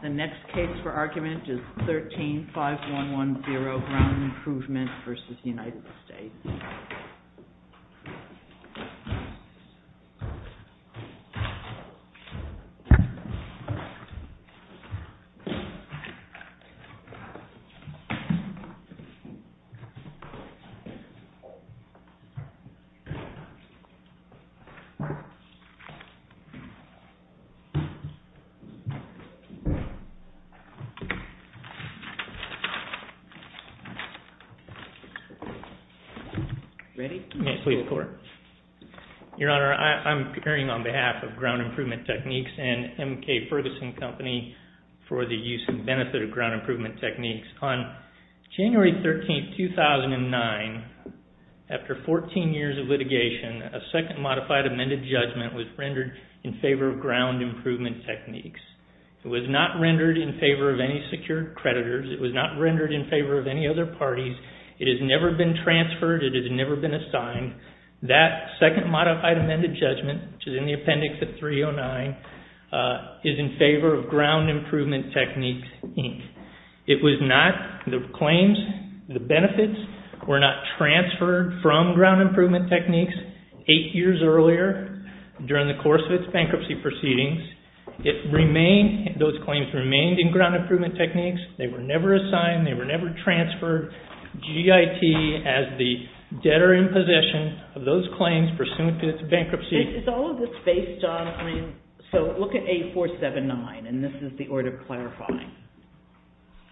The next case for argument is 13-5110, Ground Improvement v. United States. Your Honor, I'm appearing on behalf of Ground Improvement Techniques and M.K. Ferguson Company for the use and benefit of Ground Improvement Techniques. On January 13, 2009, after 14 years of litigation, a second modified amended judgment was rendered in favor of Ground Improvement Techniques. It was not rendered in favor of any secured creditors. It was not rendered in favor of any other parties. It has never been transferred. It has never been assigned. That second modified amended judgment, which is in the appendix at 309, is in favor of Ground Improvement Techniques, Inc. It was not, the claims, the benefits were not transferred from Ground Improvement Techniques eight years earlier during the course of its bankruptcy proceedings. It remained, those claims remained in Ground Improvement Techniques. They were never assigned. They were never transferred. GIT has the debtor in possession of those claims pursuant to its bankruptcy. It's all of this based on, I mean, so look at 8479, and this is the order clarifying.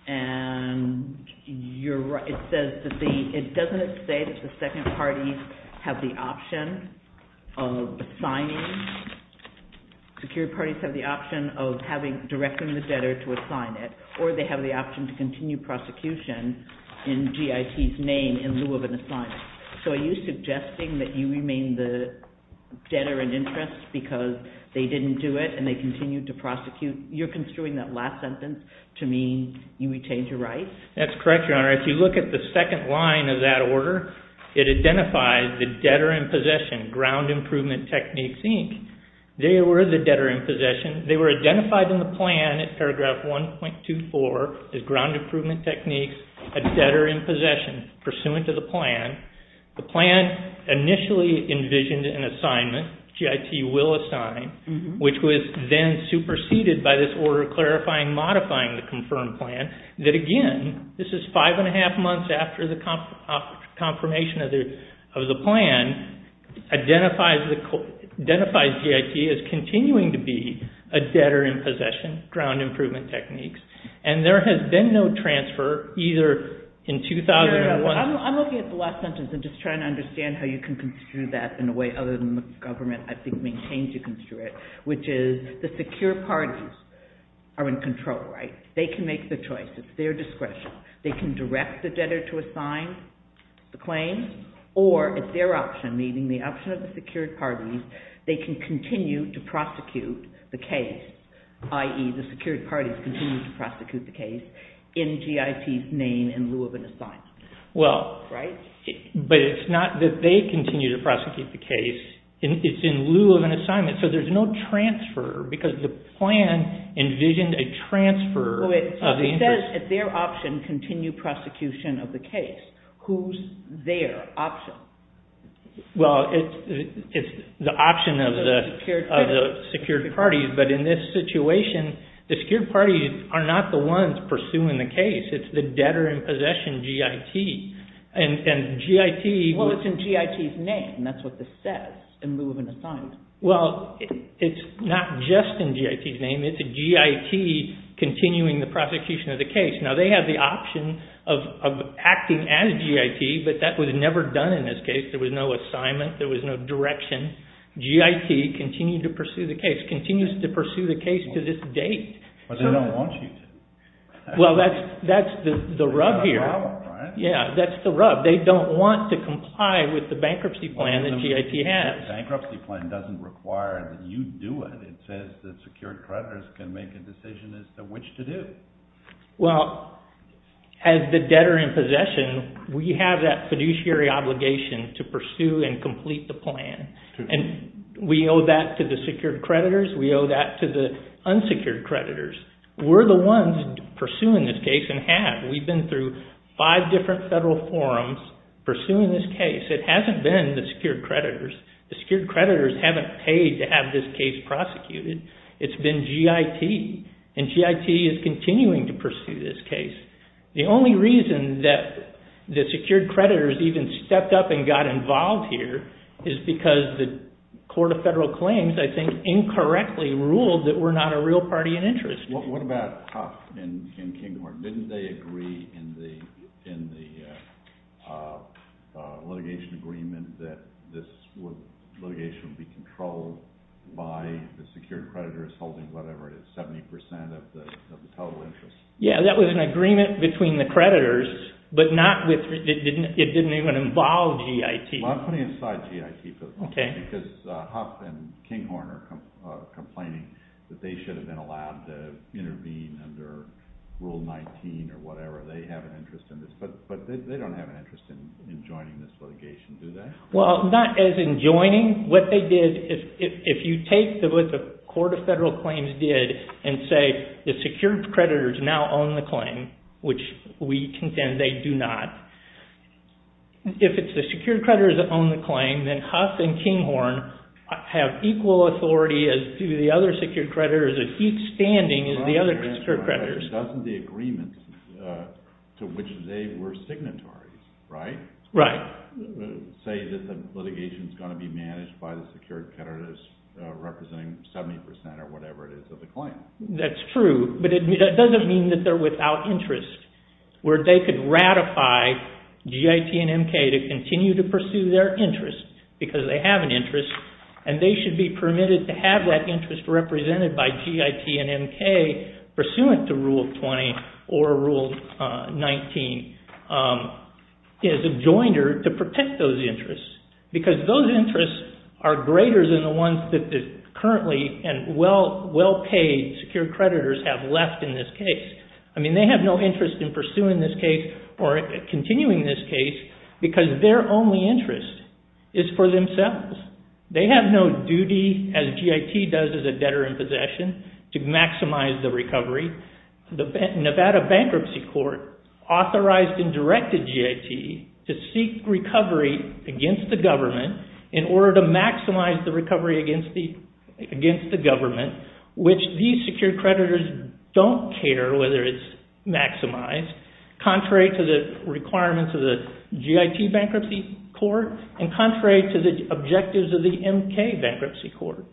And you're right. It says that the, it doesn't say that the second parties have the option of assigning, secured parties have the option of having, directing the debtor to assign it, or they have the option to continue prosecution in GIT's name in lieu of an assignment. So are you suggesting that you remain the debtor in interest because they didn't do it and they continued to prosecute? You're construing that last sentence to mean you retained your rights? That's correct, Your Honor. If you look at the second line of that order, it identifies the debtor in possession, Ground Improvement Techniques, Inc. They were the debtor in possession. They were identified in the plan at paragraph 1.24 as Ground Improvement Techniques, a debtor in possession, pursuant to the plan. The plan initially envisioned an assignment, GIT will assign, which was then superseded by this order clarifying, modifying the confirmation of the plan, identifies GIT as continuing to be a debtor in possession, Ground Improvement Techniques. And there has been no transfer, either in 2001... I'm looking at the last sentence and just trying to understand how you can construe that in a way other than the government, I think, maintains you can construe it, which is the secure parties are in control, right? They can make the choice. It's their discretion. They can direct the debtor to assign the claim or, it's their option, meaning the option of the secured parties, they can continue to prosecute the case, i.e., the secured parties continue to prosecute the case in GIT's name in lieu of an assignment, right? Well, but it's not that they continue to prosecute the case. It's in lieu of an assignment. So there's no transfer because the plan envisioned a transfer of the interest... It says, it's their option, continue prosecution of the case. Who's their option? Well, it's the option of the secured parties, but in this situation, the secured parties are not the ones pursuing the case. It's the debtor in possession, GIT, and GIT... Well, it's in GIT's name. That's what this says, in lieu of an assignment. Well, it's not just in GIT's name. It's a GIT continuing the prosecution of the case. Now, they have the option of acting as GIT, but that was never done in this case. There was no assignment. There was no direction. GIT continued to pursue the case, continues to pursue the case to this date. But they don't want you to. Well, that's the rub here. That's the rub, right? Yeah, that's the rub. They don't want to comply with the bankruptcy plan that GIT has. The bankruptcy plan doesn't require that you do it. It says that secured creditors can make a decision as to which to do. Well, as the debtor in possession, we have that fiduciary obligation to pursue and complete the plan. And we owe that to the secured creditors. We owe that to the unsecured creditors. We're the ones pursuing this case and have. We've been through five different federal forums pursuing this case. It hasn't been the secured creditors. The secured creditors haven't paid to have this case prosecuted. It's been GIT, and GIT is continuing to pursue this case. The only reason that the secured creditors even stepped up and got involved here is because the Court of Federal Claims, I think, incorrectly ruled that we're not a real party in interest. What about Huff and Kinghorn? Didn't they agree in the litigation agreement that this litigation would be controlled by the secured creditors holding whatever it is, 70% of the total interest? Yeah, that was an agreement between the creditors, but it didn't even involve GIT. Well, I'm putting aside GIT because Huff and Kinghorn are complaining that they should have been allowed to intervene under Rule 19 or whatever. They have an interest in this, but they don't have an interest in joining this litigation, do they? Well, not as in joining. What they did, if you take what the Court of Federal Claims did and say the secured creditors now own the claim, which we contend they do not, if it's the secured creditors that own the claim, then Huff and Kinghorn have equal authority as do the other secured creditors at each standing as the other secured creditors. Doesn't the agreement to which they were signatories, right? Right. Say that the litigation is going to be managed by the secured creditors representing 70% or whatever it is of the claim. That's true, but it doesn't mean that they're without interest, where they could ratify GIT and MK to continue to pursue their interest because they have an interest, and they should be permitted to have that interest represented by GIT and MK pursuant to Rule 20 or Rule 19 as a joiner to protect those interests, because those interests are greater than the ones that currently and well-paid secured creditors have left in this case. I mean, they have no interest in pursuing this case or continuing this case because their only interest is for themselves. They have no duty as GIT does as a debtor in possession to maximize the recovery. The Nevada Bankruptcy Court authorized and directed GIT to seek recovery against the government in order to maximize the recovery against the government, which these secured creditors don't care whether it's maximized, contrary to the requirements of the GIT Bankruptcy Court and contrary to the objectives of the MK Bankruptcy Court.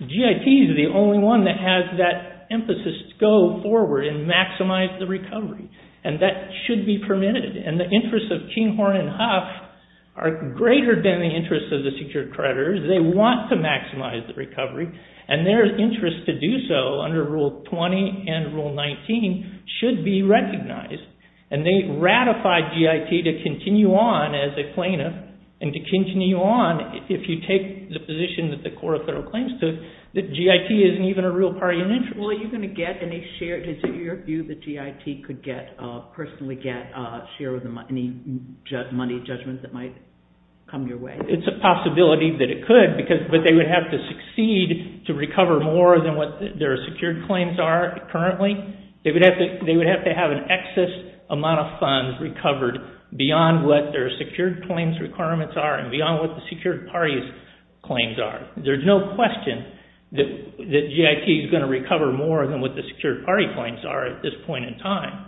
GIT is the only one that has that emphasis to go forward and maximize the recovery, and that should be permitted, and the interests of Keenhorn and Huff are greater than the interests of the secured creditors. They want to maximize the recovery, and their interest to do so under Rule 20 and Rule 19 should be recognized, and they ratified GIT to continue on as a plaintiff, and to continue on, if you take the position that the Court of Thorough Claims took, that GIT isn't even a real party interest. Are you going to get any share? Is it your view that GIT could personally get a share of any money judgments that might come your way? It's a possibility that it could, but they would have to succeed to recover more than what their secured claims are currently. They would have to have an excess amount of funds recovered beyond what their secured claims requirements are, and beyond what the secured party's claims are. There's no question that GIT is going to recover more than what the secured party claims are at this point in time.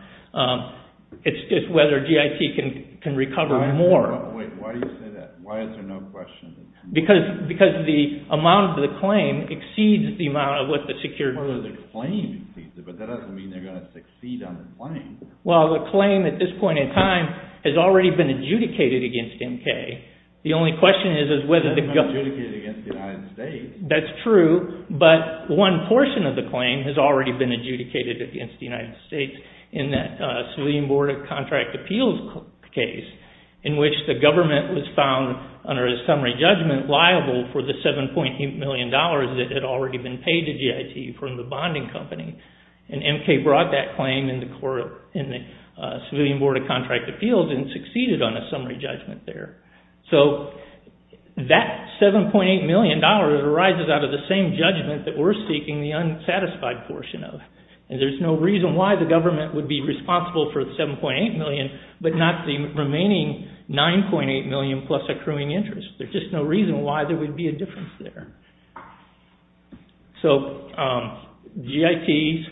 It's whether GIT can recover more. Wait, why do you say that? Why is there no question? Because the amount of the claim exceeds the amount of what the secured party claims. But that doesn't mean they're going to succeed on the claim. Well, the claim at this point in time has already been adjudicated against MK. The only question is whether the government... It's not adjudicated against the United States. That's true, but one portion of the claim has already been adjudicated against the United States in that Civilian Board of Contract Appeals case, in which the government was found under a summary judgment liable for the $7.8 million that had already been paid to GIT from the bonding company. And MK brought that claim in the Civilian Board of Contract Appeals and succeeded on a summary judgment there. So that $7.8 million arises out of the same judgment that we're seeking the unsatisfied portion of. And there's no reason why the government would be responsible for the $7.8 million, but not the remaining $9.8 million plus accruing interest. There's just no reason why there would be a difference there. So GIT's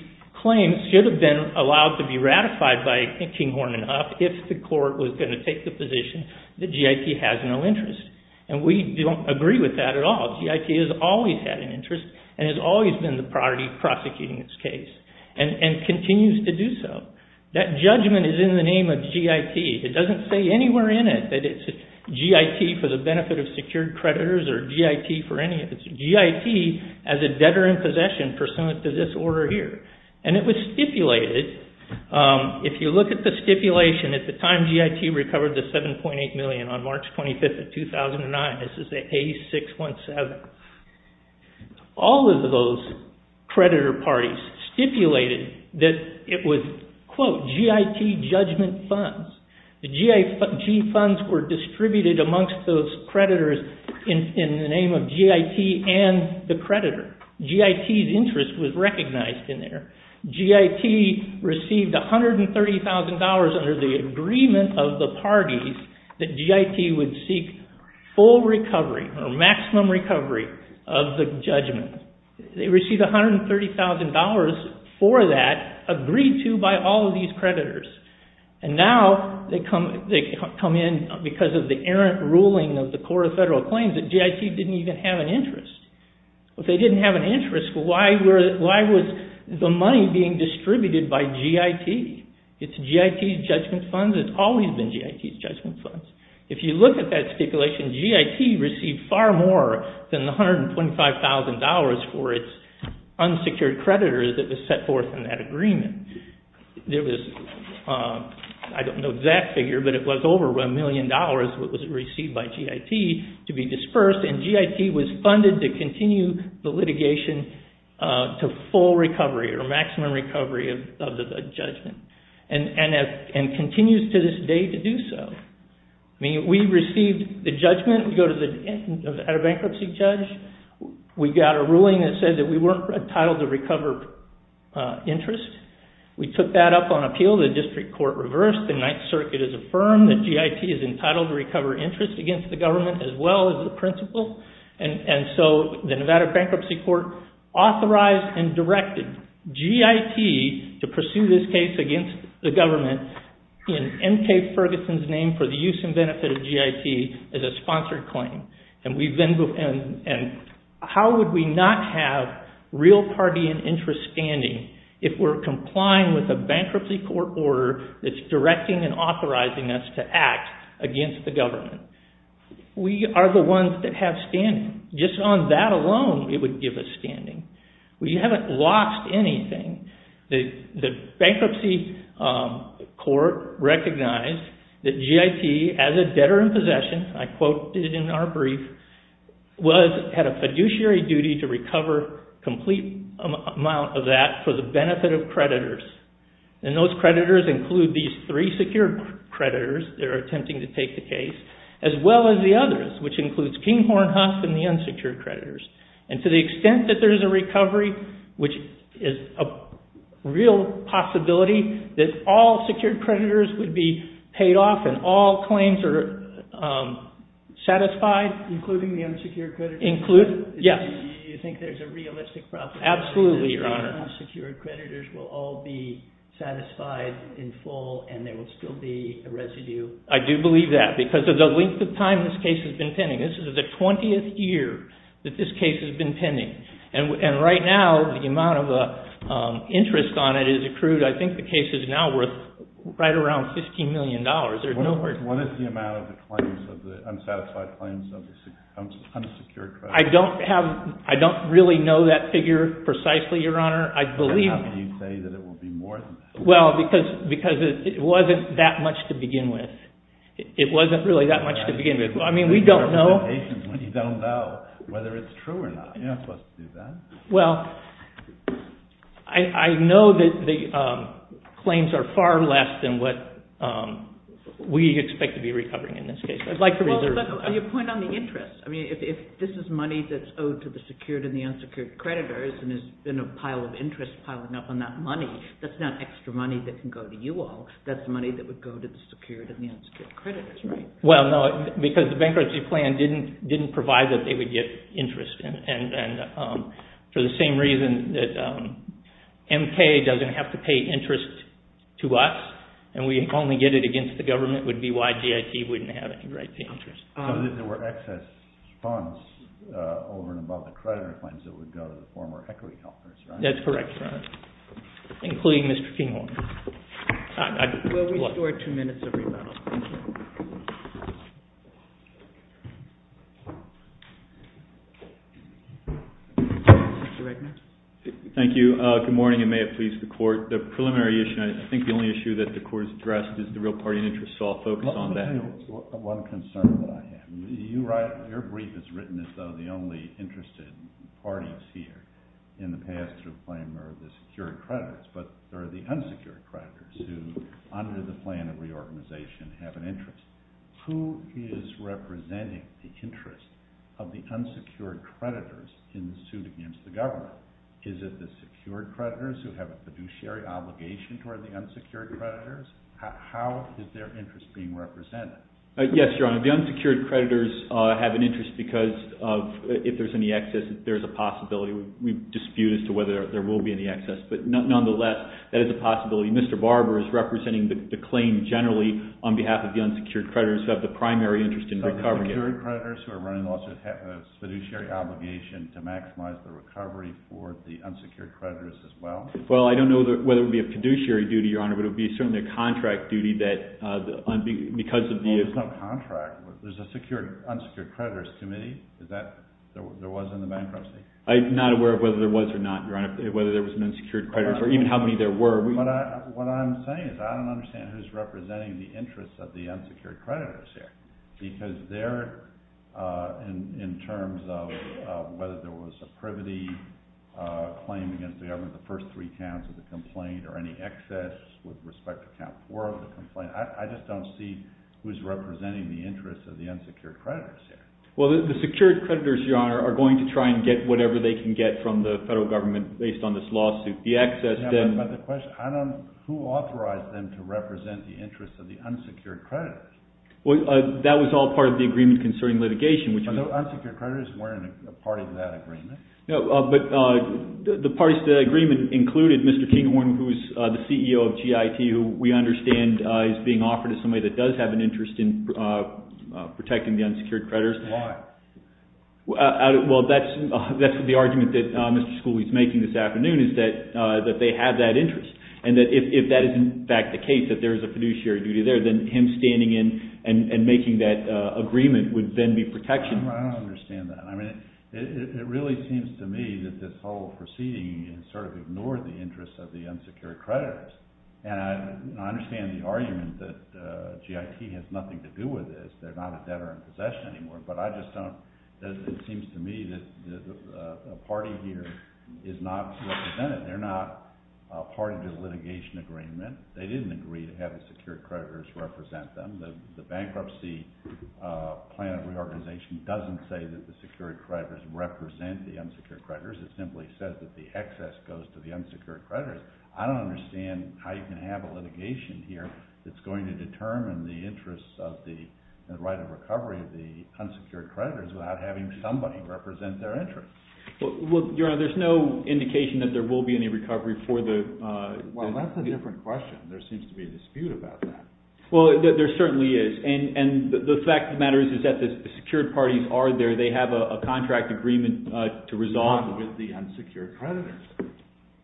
claim should have been allowed to be ratified by Kinghorn and Huff if the court was going to take the position that GIT has no interest. And we don't agree with that at all. GIT has always had an interest and has always been the priority prosecuting this case and continues to do so. That judgment is in the name of GIT. It doesn't say anywhere in it that it's GIT for the benefit of secured creditors or GIT for any of this. GIT as a debtor in possession pursuant to this order here. And it was stipulated. If you look at the stipulation, at the time GIT recovered the $7.8 million on March 25th of 2009, this is the A617. All of those creditor parties stipulated that it was, quote, GIT judgment funds. The G funds were distributed amongst those creditors in the name of GIT and the creditor. GIT's interest was recognized in there. GIT received $130,000 under the agreement of the parties that GIT would seek full recovery or maximum recovery of the judgment. They received $130,000 for that agreed to by all of these creditors. And now they come in because of the errant ruling of the Court of Federal Claims that GIT didn't even have an interest. If they didn't have an interest, why was the money being distributed by GIT? It's GIT's judgment funds. It's always been GIT's judgment funds. If you look at that stipulation, GIT received far more than the $125,000 for its unsecured creditors that was set forth in that agreement. There was, I don't know that figure, but it was over $1 million that was received by GIT to be dispersed. And GIT was funded to continue the litigation to full recovery or maximum recovery of the judgment. And continues to this day to do so. I mean, we received the judgment. We go to the bankruptcy judge. We got a ruling that said that we weren't entitled to recover interest. We took that up on appeal. The district court reversed. The Ninth Circuit has affirmed that GIT is entitled to recover interest against the government as well as the principal. And so the Nevada Bankruptcy Court authorized and directed GIT to pursue this case against the government in M.K. Ferguson's name for the use and benefit of GIT as a sponsored claim. And how would we not have real party and interest standing if we're complying with a bankruptcy court order that's directing and authorizing us to act against the government? We are the ones that have standing. Just on that alone, it would give us standing. We haven't lost anything. The bankruptcy court recognized that GIT as a debtor in possession, I quoted in our brief, had a fiduciary duty to recover a complete amount of that for the benefit of creditors. And those creditors include these three secured creditors that are attempting to take the case as well as the others, which includes Kinghorn, Huff, and the unsecured creditors. And to the extent that there is a recovery, which is a real possibility, that all secured creditors would be paid off and all claims are satisfied. Including the unsecured creditors? Yes. Do you think there's a realistic prospect that the unsecured creditors will all be satisfied in full and there will still be a residue? I do believe that because of the length of time this case has been pending. This is the 20th year that this case has been pending. And right now, the amount of interest on it is accrued. I think the case is now worth right around $15 million. What is the amount of the claims of the unsatisfied claims of the unsecured creditors? I don't really know that figure precisely, Your Honor. How can you say that it will be more than that? Well, because it wasn't that much to begin with. It wasn't really that much to begin with. I mean, we don't know. You don't know whether it's true or not. You're not supposed to do that. Well, I know that the claims are far less than what we expect to be recovering in this case. I'd like to reserve that. Well, but your point on the interest. I mean, if this is money that's owed to the secured and the unsecured creditors and there's been a pile of interest piling up on that money, that's not extra money that can go to you all. That's money that would go to the secured and the unsecured creditors, right? Well, no, because the bankruptcy plan didn't provide that they would get interest. And for the same reason that M.K. doesn't have to pay interest to us and we only get it against the government would be why G.I.T. wouldn't have any right to interest. So there were excess funds over and above the creditor claims that would go to the former equity holders, right? That's correct, Your Honor, including Mr. Kinghorn. We'll restore two minutes of rebuttal. Thank you. Thank you. Good morning, and may it please the Court. The preliminary issue, I think the only issue that the Court has addressed, is the real party and interest. So I'll focus on that. I have one concern that I have. Your brief is written as though the only interested party is here. In the past, the claim are the secured creditors, but there are the unsecured creditors who, under the plan of reorganization, have an interest. Who is representing the interest of the unsecured creditors in the suit against the government? Is it the secured creditors who have a fiduciary obligation toward the unsecured creditors? How is their interest being represented? Yes, Your Honor. The unsecured creditors have an interest because if there's any excess, there's a possibility. We dispute as to whether there will be any excess. But nonetheless, that is a possibility. Mr. Barber is representing the claim generally on behalf of the unsecured creditors who have the primary interest in recovering it. So the secured creditors who are running the lawsuit have a fiduciary obligation to maximize the recovery for the unsecured creditors as well? Well, I don't know whether it would be a fiduciary duty, Your Honor, but it would be certainly a contract duty because of the – Well, there's no contract. There's a secured – unsecured creditors committee. Is that – there was in the bankruptcy? I'm not aware of whether there was or not, Your Honor, whether there was an unsecured creditor or even how many there were. What I'm saying is I don't understand who's representing the interests of the unsecured creditors here because they're in terms of whether there was a privity claim against the government, the first three counts of the complaint, or any excess with respect to count four of the complaint. I just don't see who's representing the interests of the unsecured creditors here. Well, the secured creditors, Your Honor, are going to try and get whatever they can get from the federal government based on this lawsuit. The excess then – But the question, I don't – who authorized them to represent the interests of the unsecured creditors? Well, that was all part of the agreement concerning litigation, which was – But the unsecured creditors weren't a part of that agreement. No, but the parties to that agreement included Mr. Kinghorn, who's the CEO of GIT, who we understand is being offered to somebody that does have an interest in protecting the unsecured creditors. Why? Well, that's the argument that Mr. Schooley is making this afternoon is that they have that interest and that if that is in fact the case, that there is a fiduciary duty there, then him standing in and making that agreement would then be protection. I don't understand that. I mean, it really seems to me that this whole proceeding has sort of ignored the interests of the unsecured creditors. And I understand the argument that GIT has nothing to do with this. They're not a debtor in possession anymore. But I just don't – it seems to me that a party here is not represented. They're not a party to the litigation agreement. They didn't agree to have the secured creditors represent them. The Bankruptcy Plan of Reorganization doesn't say that the secured creditors represent the unsecured creditors. It simply says that the excess goes to the unsecured creditors. I don't understand how you can have a litigation here that's going to determine the interests of the right of recovery of the unsecured creditors without having somebody represent their interest. Well, Your Honor, there's no indication that there will be any recovery for the – Well, that's a different question. There seems to be a dispute about that. Well, there certainly is. And the fact of the matter is that the secured parties are there. They have a contract agreement to resolve with the unsecured creditors.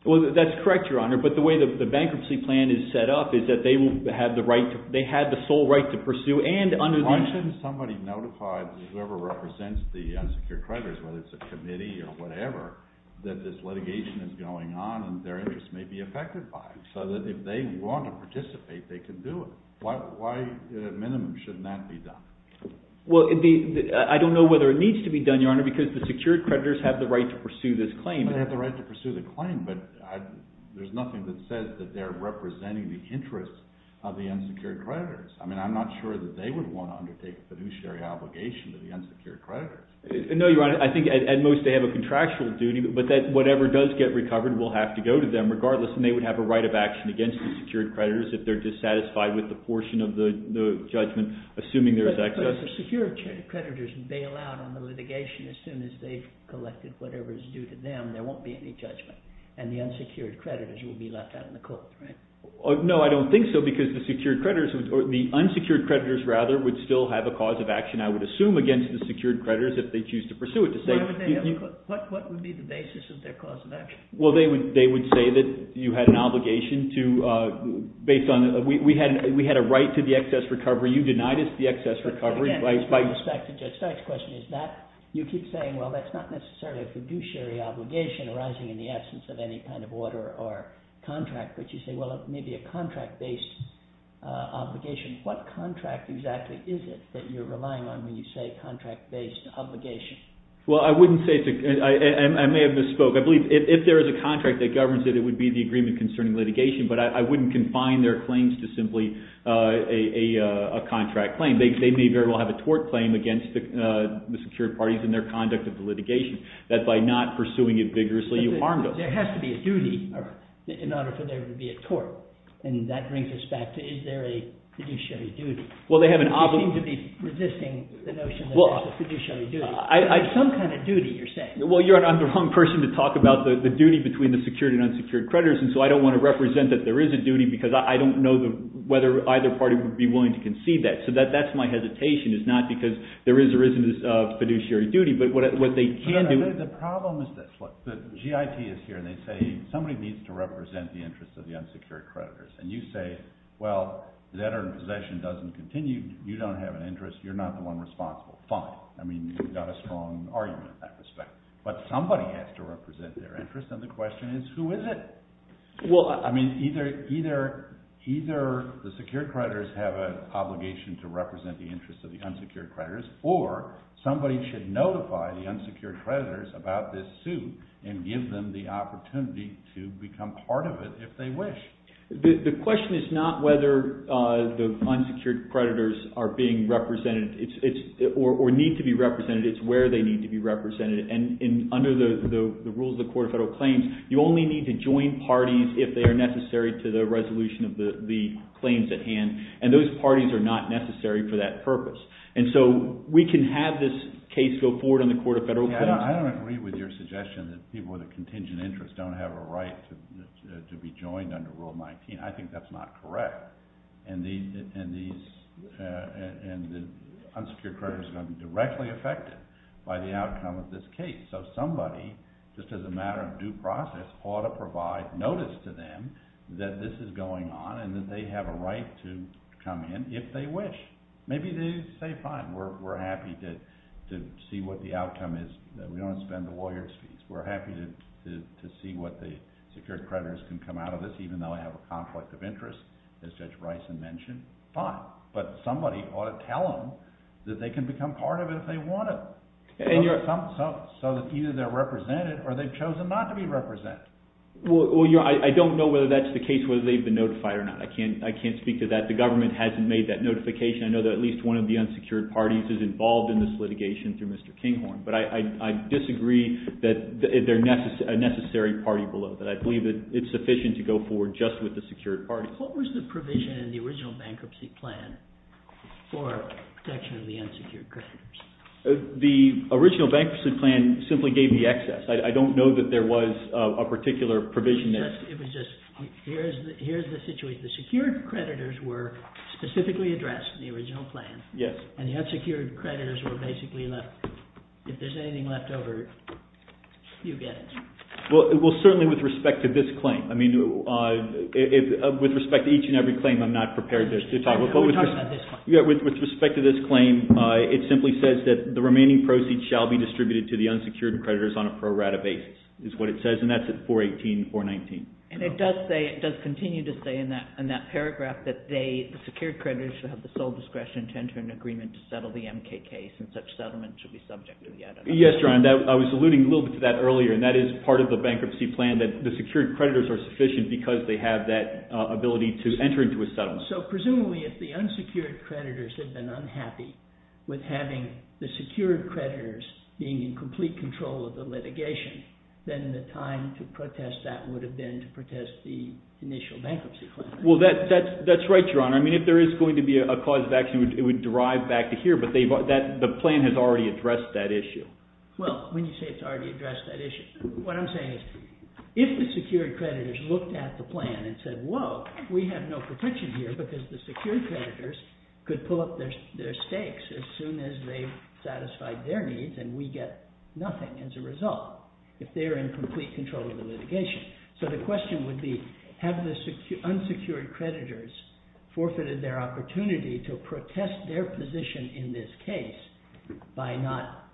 Well, that's correct, Your Honor. But the way the Bankruptcy Plan is set up is that they have the sole right to pursue and under the – Why shouldn't somebody notify whoever represents the unsecured creditors, whether it's a committee or whatever, that this litigation is going on and their interest may be affected by it, so that if they want to participate, they can do it? Why, at a minimum, shouldn't that be done? Well, I don't know whether it needs to be done, Your Honor, because the secured creditors have the right to pursue this claim. They have the right to pursue the claim, but there's nothing that says that they're representing the interests of the unsecured creditors. I mean, I'm not sure that they would want to undertake a fiduciary obligation to the unsecured creditors. No, Your Honor. I think, at most, they have a contractual duty, but that whatever does get recovered will have to go to them regardless, and they would have a right of action against the secured creditors if they're dissatisfied with the portion of the judgment, assuming there is access. But if the secured creditors bail out on the litigation, as soon as they've collected whatever is due to them, there won't be any judgment, and the unsecured creditors will be left out in the court, right? No, I don't think so, because the secured creditors – the unsecured creditors, rather, would still have a cause of action, I would assume, against the secured creditors if they choose to pursue it. Why would they have a – what would be the basis of their cause of action? Well, they would say that you had an obligation to – based on – we had a right to the excess recovery. You denied us the excess recovery. But, again, with respect to Judge Stein's question, is that – you keep saying, well, that's not necessarily a fiduciary obligation arising in the absence of any kind of order or contract, but you say, well, it may be a contract-based obligation. What contract exactly is it that you're relying on when you say contract-based obligation? Well, I wouldn't say – I may have misspoke. I believe if there is a contract that governs it, it would be the agreement concerning litigation. But I wouldn't confine their claims to simply a contract claim. They may very well have a tort claim against the secured parties in their conduct of the litigation, that by not pursuing it vigorously, you harmed them. There has to be a duty in order for there to be a tort. And that brings us back to is there a fiduciary duty. Well, they have an – You seem to be resisting the notion that there's a fiduciary duty. Well, I – Some kind of duty, you're saying. Well, you're – I'm the wrong person to talk about the duty between the secured and unsecured creditors, and so I don't want to represent that there is a duty because I don't know whether either party would be willing to concede that. So that's my hesitation. It's not because there is or isn't a fiduciary duty, but what they can do – The problem is this. Look, the GIT is here, and they say somebody needs to represent the interests of the unsecured creditors. And you say, well, that possession doesn't continue. You don't have an interest. You're not the one responsible. Fine. I mean, you've got a strong argument in that respect. But somebody has to represent their interest, and the question is who is it? Well – I mean, either the secured creditors have an obligation to represent the interests of the unsecured creditors, or somebody should notify the unsecured creditors about this suit and give them the opportunity to become part of it if they wish. The question is not whether the unsecured creditors are being represented or need to be represented. It's where they need to be represented. And under the rules of the Court of Federal Claims, you only need to join parties if they are necessary to the resolution of the claims at hand. And those parties are not necessary for that purpose. And so we can have this case go forward on the Court of Federal Claims. I don't agree with your suggestion that people with a contingent interest don't have a right to be joined under Rule 19. I think that's not correct. And the unsecured creditors are going to be directly affected by the outcome of this case. So somebody, just as a matter of due process, ought to provide notice to them that this is going on and that they have a right to come in if they wish. Maybe they say, fine. We're happy to see what the outcome is. We don't want to spend the lawyers' fees. We're happy to see what the secured creditors can come out of this, even though they have a conflict of interest, as Judge Bryson mentioned. Fine. But somebody ought to tell them that they can become part of it if they want to. So either they're represented or they've chosen not to be represented. Well, I don't know whether that's the case, whether they've been notified or not. I can't speak to that. The government hasn't made that notification. I know that at least one of the unsecured parties is involved in this litigation through Mr. Kinghorn. But I disagree that they're a necessary party below that. I believe that it's sufficient to go forward just with the secured parties. What was the provision in the original bankruptcy plan for protection of the unsecured creditors? The original bankruptcy plan simply gave the excess. I don't know that there was a particular provision. It was just here's the situation. The secured creditors were specifically addressed in the original plan. Yes. And the unsecured creditors were basically left. If there's anything left over, you get it. Well, certainly with respect to this claim. I mean, with respect to each and every claim, I'm not prepared to talk. We're talking about this claim. With respect to this claim, it simply says that the remaining proceeds shall be distributed to the unsecured creditors on a pro rata basis, is what it says. And that's at 418, 419. And it does continue to say in that paragraph that the secured creditors should have the sole discretion to enter an agreement to settle the MK case, and such settlement should be subject to the editor. Yes, Your Honor. I was alluding a little bit to that earlier, and that is part of the bankruptcy plan that the secured creditors are sufficient because they have that ability to enter into a settlement. So presumably, if the unsecured creditors had been unhappy with having the secured creditors being in complete control of the litigation, then the time to protest that would have been to protest the initial bankruptcy plan. Well, that's right, Your Honor. I mean, if there is going to be a cause of action, it would derive back to here, but the plan has already addressed that issue. Well, when you say it's already addressed that issue, what I'm saying is if the secured creditors looked at the plan and said, whoa, we have no protection here. It's because the secured creditors could pull up their stakes as soon as they've satisfied their needs, and we get nothing as a result if they're in complete control of the litigation. So the question would be, have the unsecured creditors forfeited their opportunity to protest their position in this case by not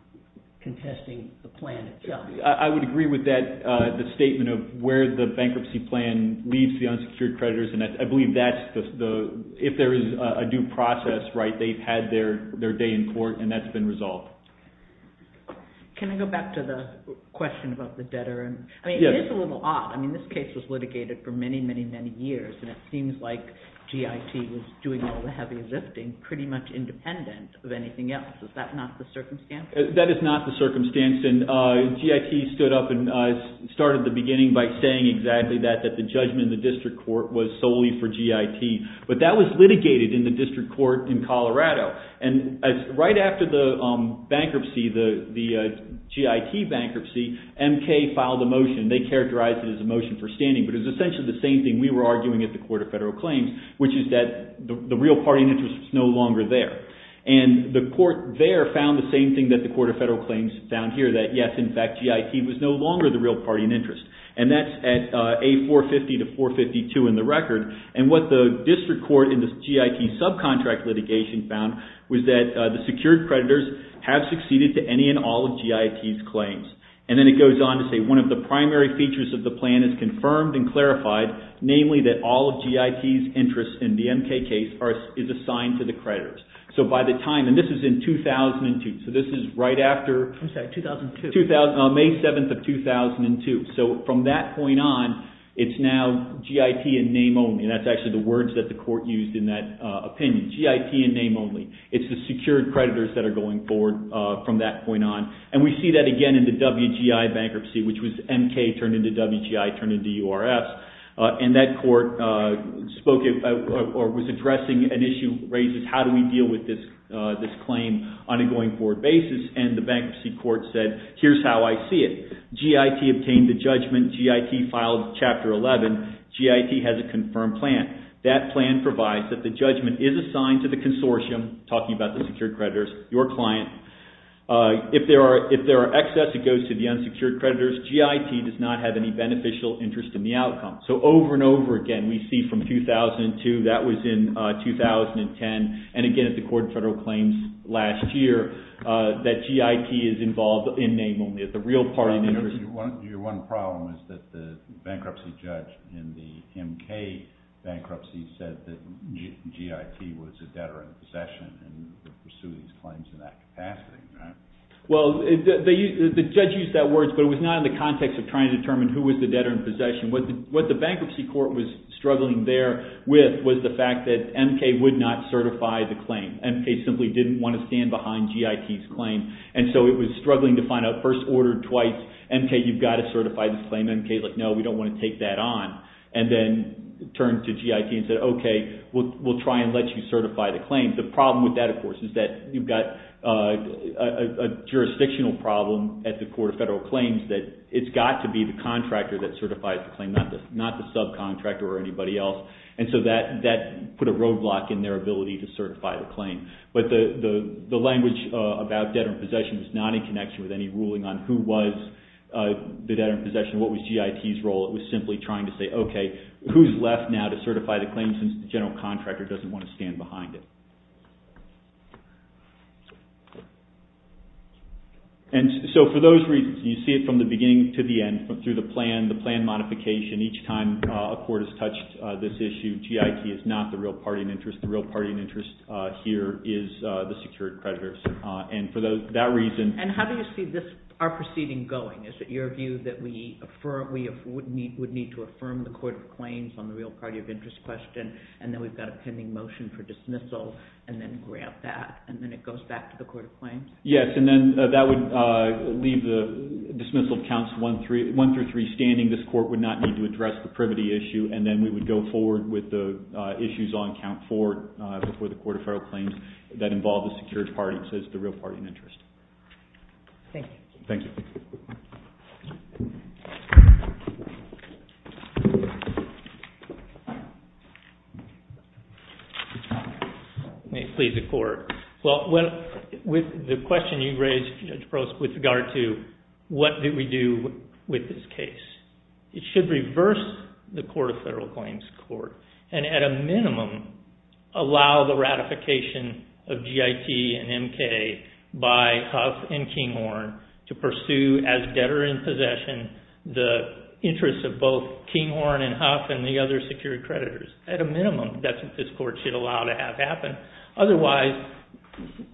contesting the plan itself? I would agree with that statement of where the bankruptcy plan leads the unsecured creditors. I believe if there is a due process, they've had their day in court, and that's been resolved. Can I go back to the question about the debtor? It is a little odd. I mean, this case was litigated for many, many, many years, and it seems like GIT was doing all the heavy lifting pretty much independent of anything else. Is that not the circumstance? That is not the circumstance. GIT stood up and started at the beginning by saying exactly that, that the judgment in the district court was solely for GIT. But that was litigated in the district court in Colorado. And right after the bankruptcy, the GIT bankruptcy, MK filed a motion. They characterized it as a motion for standing, but it was essentially the same thing we were arguing at the Court of Federal Claims, which is that the real party interest was no longer there. And the court there found the same thing that the Court of Federal Claims found here, that yes, in fact, GIT was no longer the real party in interest. And that's at A450 to 452 in the record. And what the district court in the GIT subcontract litigation found was that the secured creditors have succeeded to any and all of GIT's claims. And then it goes on to say one of the primary features of the plan is confirmed and clarified, namely that all of GIT's interest in the MK case is assigned to the creditors. So by the time, and this is in 2002, so this is right after... I'm sorry, 2002. May 7th of 2002. So from that point on, it's now GIT and name only. That's actually the words that the court used in that opinion. GIT and name only. It's the secured creditors that are going forward from that point on. And we see that again in the WGI bankruptcy, which was MK turned into WGI turned into URS. And that court spoke or was addressing an issue raised as how do we deal with this claim on a going forward basis. And the bankruptcy court said, here's how I see it. GIT obtained the judgment. GIT filed Chapter 11. GIT has a confirmed plan. That plan provides that the judgment is assigned to the consortium, talking about the secured creditors, your client. If there are excess, it goes to the unsecured creditors. GIT does not have any beneficial interest in the outcome. So over and over again, we see from 2002, that was in 2010. And again, at the court of federal claims last year, that GIT is involved in name only. The real part... Your one problem is that the bankruptcy judge in the MK bankruptcy said that GIT was a debtor in possession and would pursue these claims in that capacity, right? Well, the judge used that word, but it was not in the context of trying to determine who was the debtor in possession. What the bankruptcy court was struggling there with was the fact that MK would not certify the claim. MK simply didn't want to stand behind GIT's claim. And so it was struggling to find out first order, twice. MK, you've got to certify this claim. MK's like, no, we don't want to take that on. And then turned to GIT and said, okay, we'll try and let you certify the claim. The problem with that, of course, is that you've got a jurisdictional problem at the court of federal claims that it's got to be the contractor that certifies the claim, not the subcontractor or anybody else. And so that put a roadblock in their ability to certify the claim. But the language about debtor in possession was not in connection with any ruling on who was the debtor in possession, what was GIT's role. It was simply trying to say, okay, who's left now to certify the claim since the general contractor doesn't want to stand behind it. And so for those reasons, you see it from the beginning to the end through the plan, the plan modification. Each time a court has touched this issue, GIT is not the real party in interest. The real party in interest here is the secured creditors. And for that reason – And how do you see this, our proceeding going? Is it your view that we would need to affirm the court of claims on the real party of interest question, and then we've got a pending motion for dismissal, and then grant that, and then it goes back to the court of claims? Yes, and then that would leave the dismissal of counts one through three standing. This court would not need to address the privity issue, and then we would go forward with the issues on count four before the court of federal claims that involve the secured parties as the real party in interest. Thank you. Thank you. May it please the court. Well, with the question you raised, Judge Prost, with regard to what do we do with this case, it should reverse the court of federal claims court, and at a minimum allow the ratification of GIT and MK by Huff and Kinghorn to pursue as debtor in possession the interests of both Kinghorn and Huff and the other secured creditors. At a minimum, that's what this court should allow to have happen. Otherwise,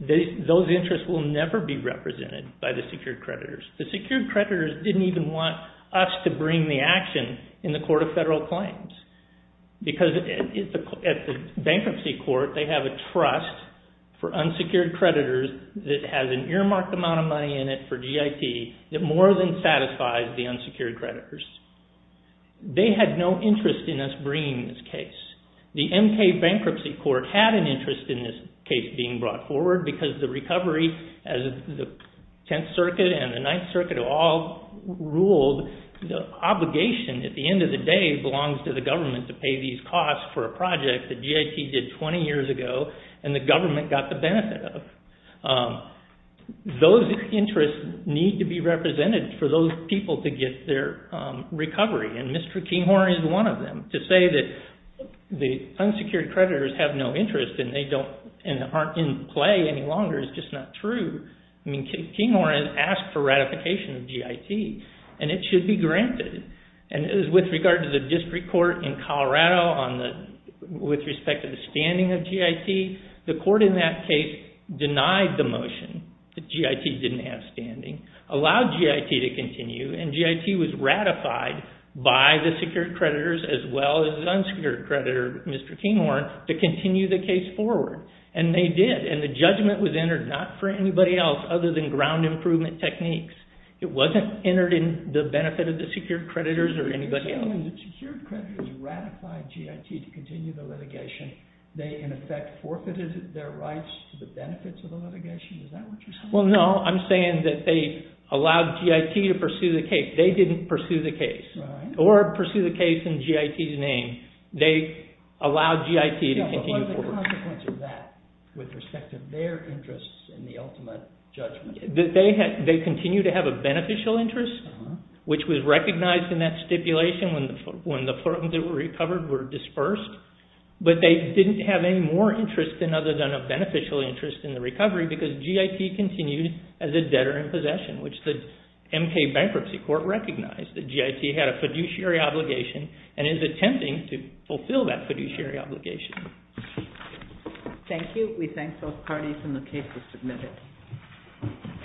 those interests will never be represented by the secured creditors. The secured creditors didn't even want us to bring the action in the court of federal claims because at the bankruptcy court, they have a trust for unsecured creditors that has an earmarked amount of money in it for GIT that more than satisfies the unsecured creditors. They had no interest in us bringing this case. The MK bankruptcy court had an interest in this case being brought forward because the recovery as the Tenth Circuit and the Ninth Circuit all ruled the obligation at the end of the day belongs to the government to pay these costs for a project that GIT did 20 years ago and the government got the benefit of. Those interests need to be represented for those people to get their recovery, and Mr. Kinghorn is one of them. To say that the unsecured creditors have no interest and they aren't in play any longer is just not true. Kinghorn has asked for ratification of GIT and it should be granted. With regard to the district court in Colorado with respect to the standing of GIT, the court in that case denied the motion that GIT didn't have standing, allowed GIT to continue, and GIT was ratified by the secured creditors as well as the unsecured creditor, Mr. Kinghorn, to continue the case forward. And they did, and the judgment was entered not for anybody else other than ground improvement techniques. It wasn't entered in the benefit of the secured creditors or anybody else. You're saying when the secured creditors ratified GIT to continue the litigation, they in effect forfeited their rights to the benefits of the litigation? Is that what you're saying? Well, no. I'm saying that they allowed GIT to pursue the case. They didn't pursue the case or pursue the case in GIT's name. They allowed GIT to continue forward. What was the consequence of that with respect to their interests in the ultimate judgment? They continue to have a beneficial interest, which was recognized in that stipulation when the firms that were recovered were dispersed, but they didn't have any more interest other than a beneficial interest in the recovery because GIT continued as a debtor in possession, which the MK Bankruptcy Court recognized that GIT had a fiduciary obligation and is attempting to fulfill that fiduciary obligation. Thank you. We thank both parties and the case is submitted.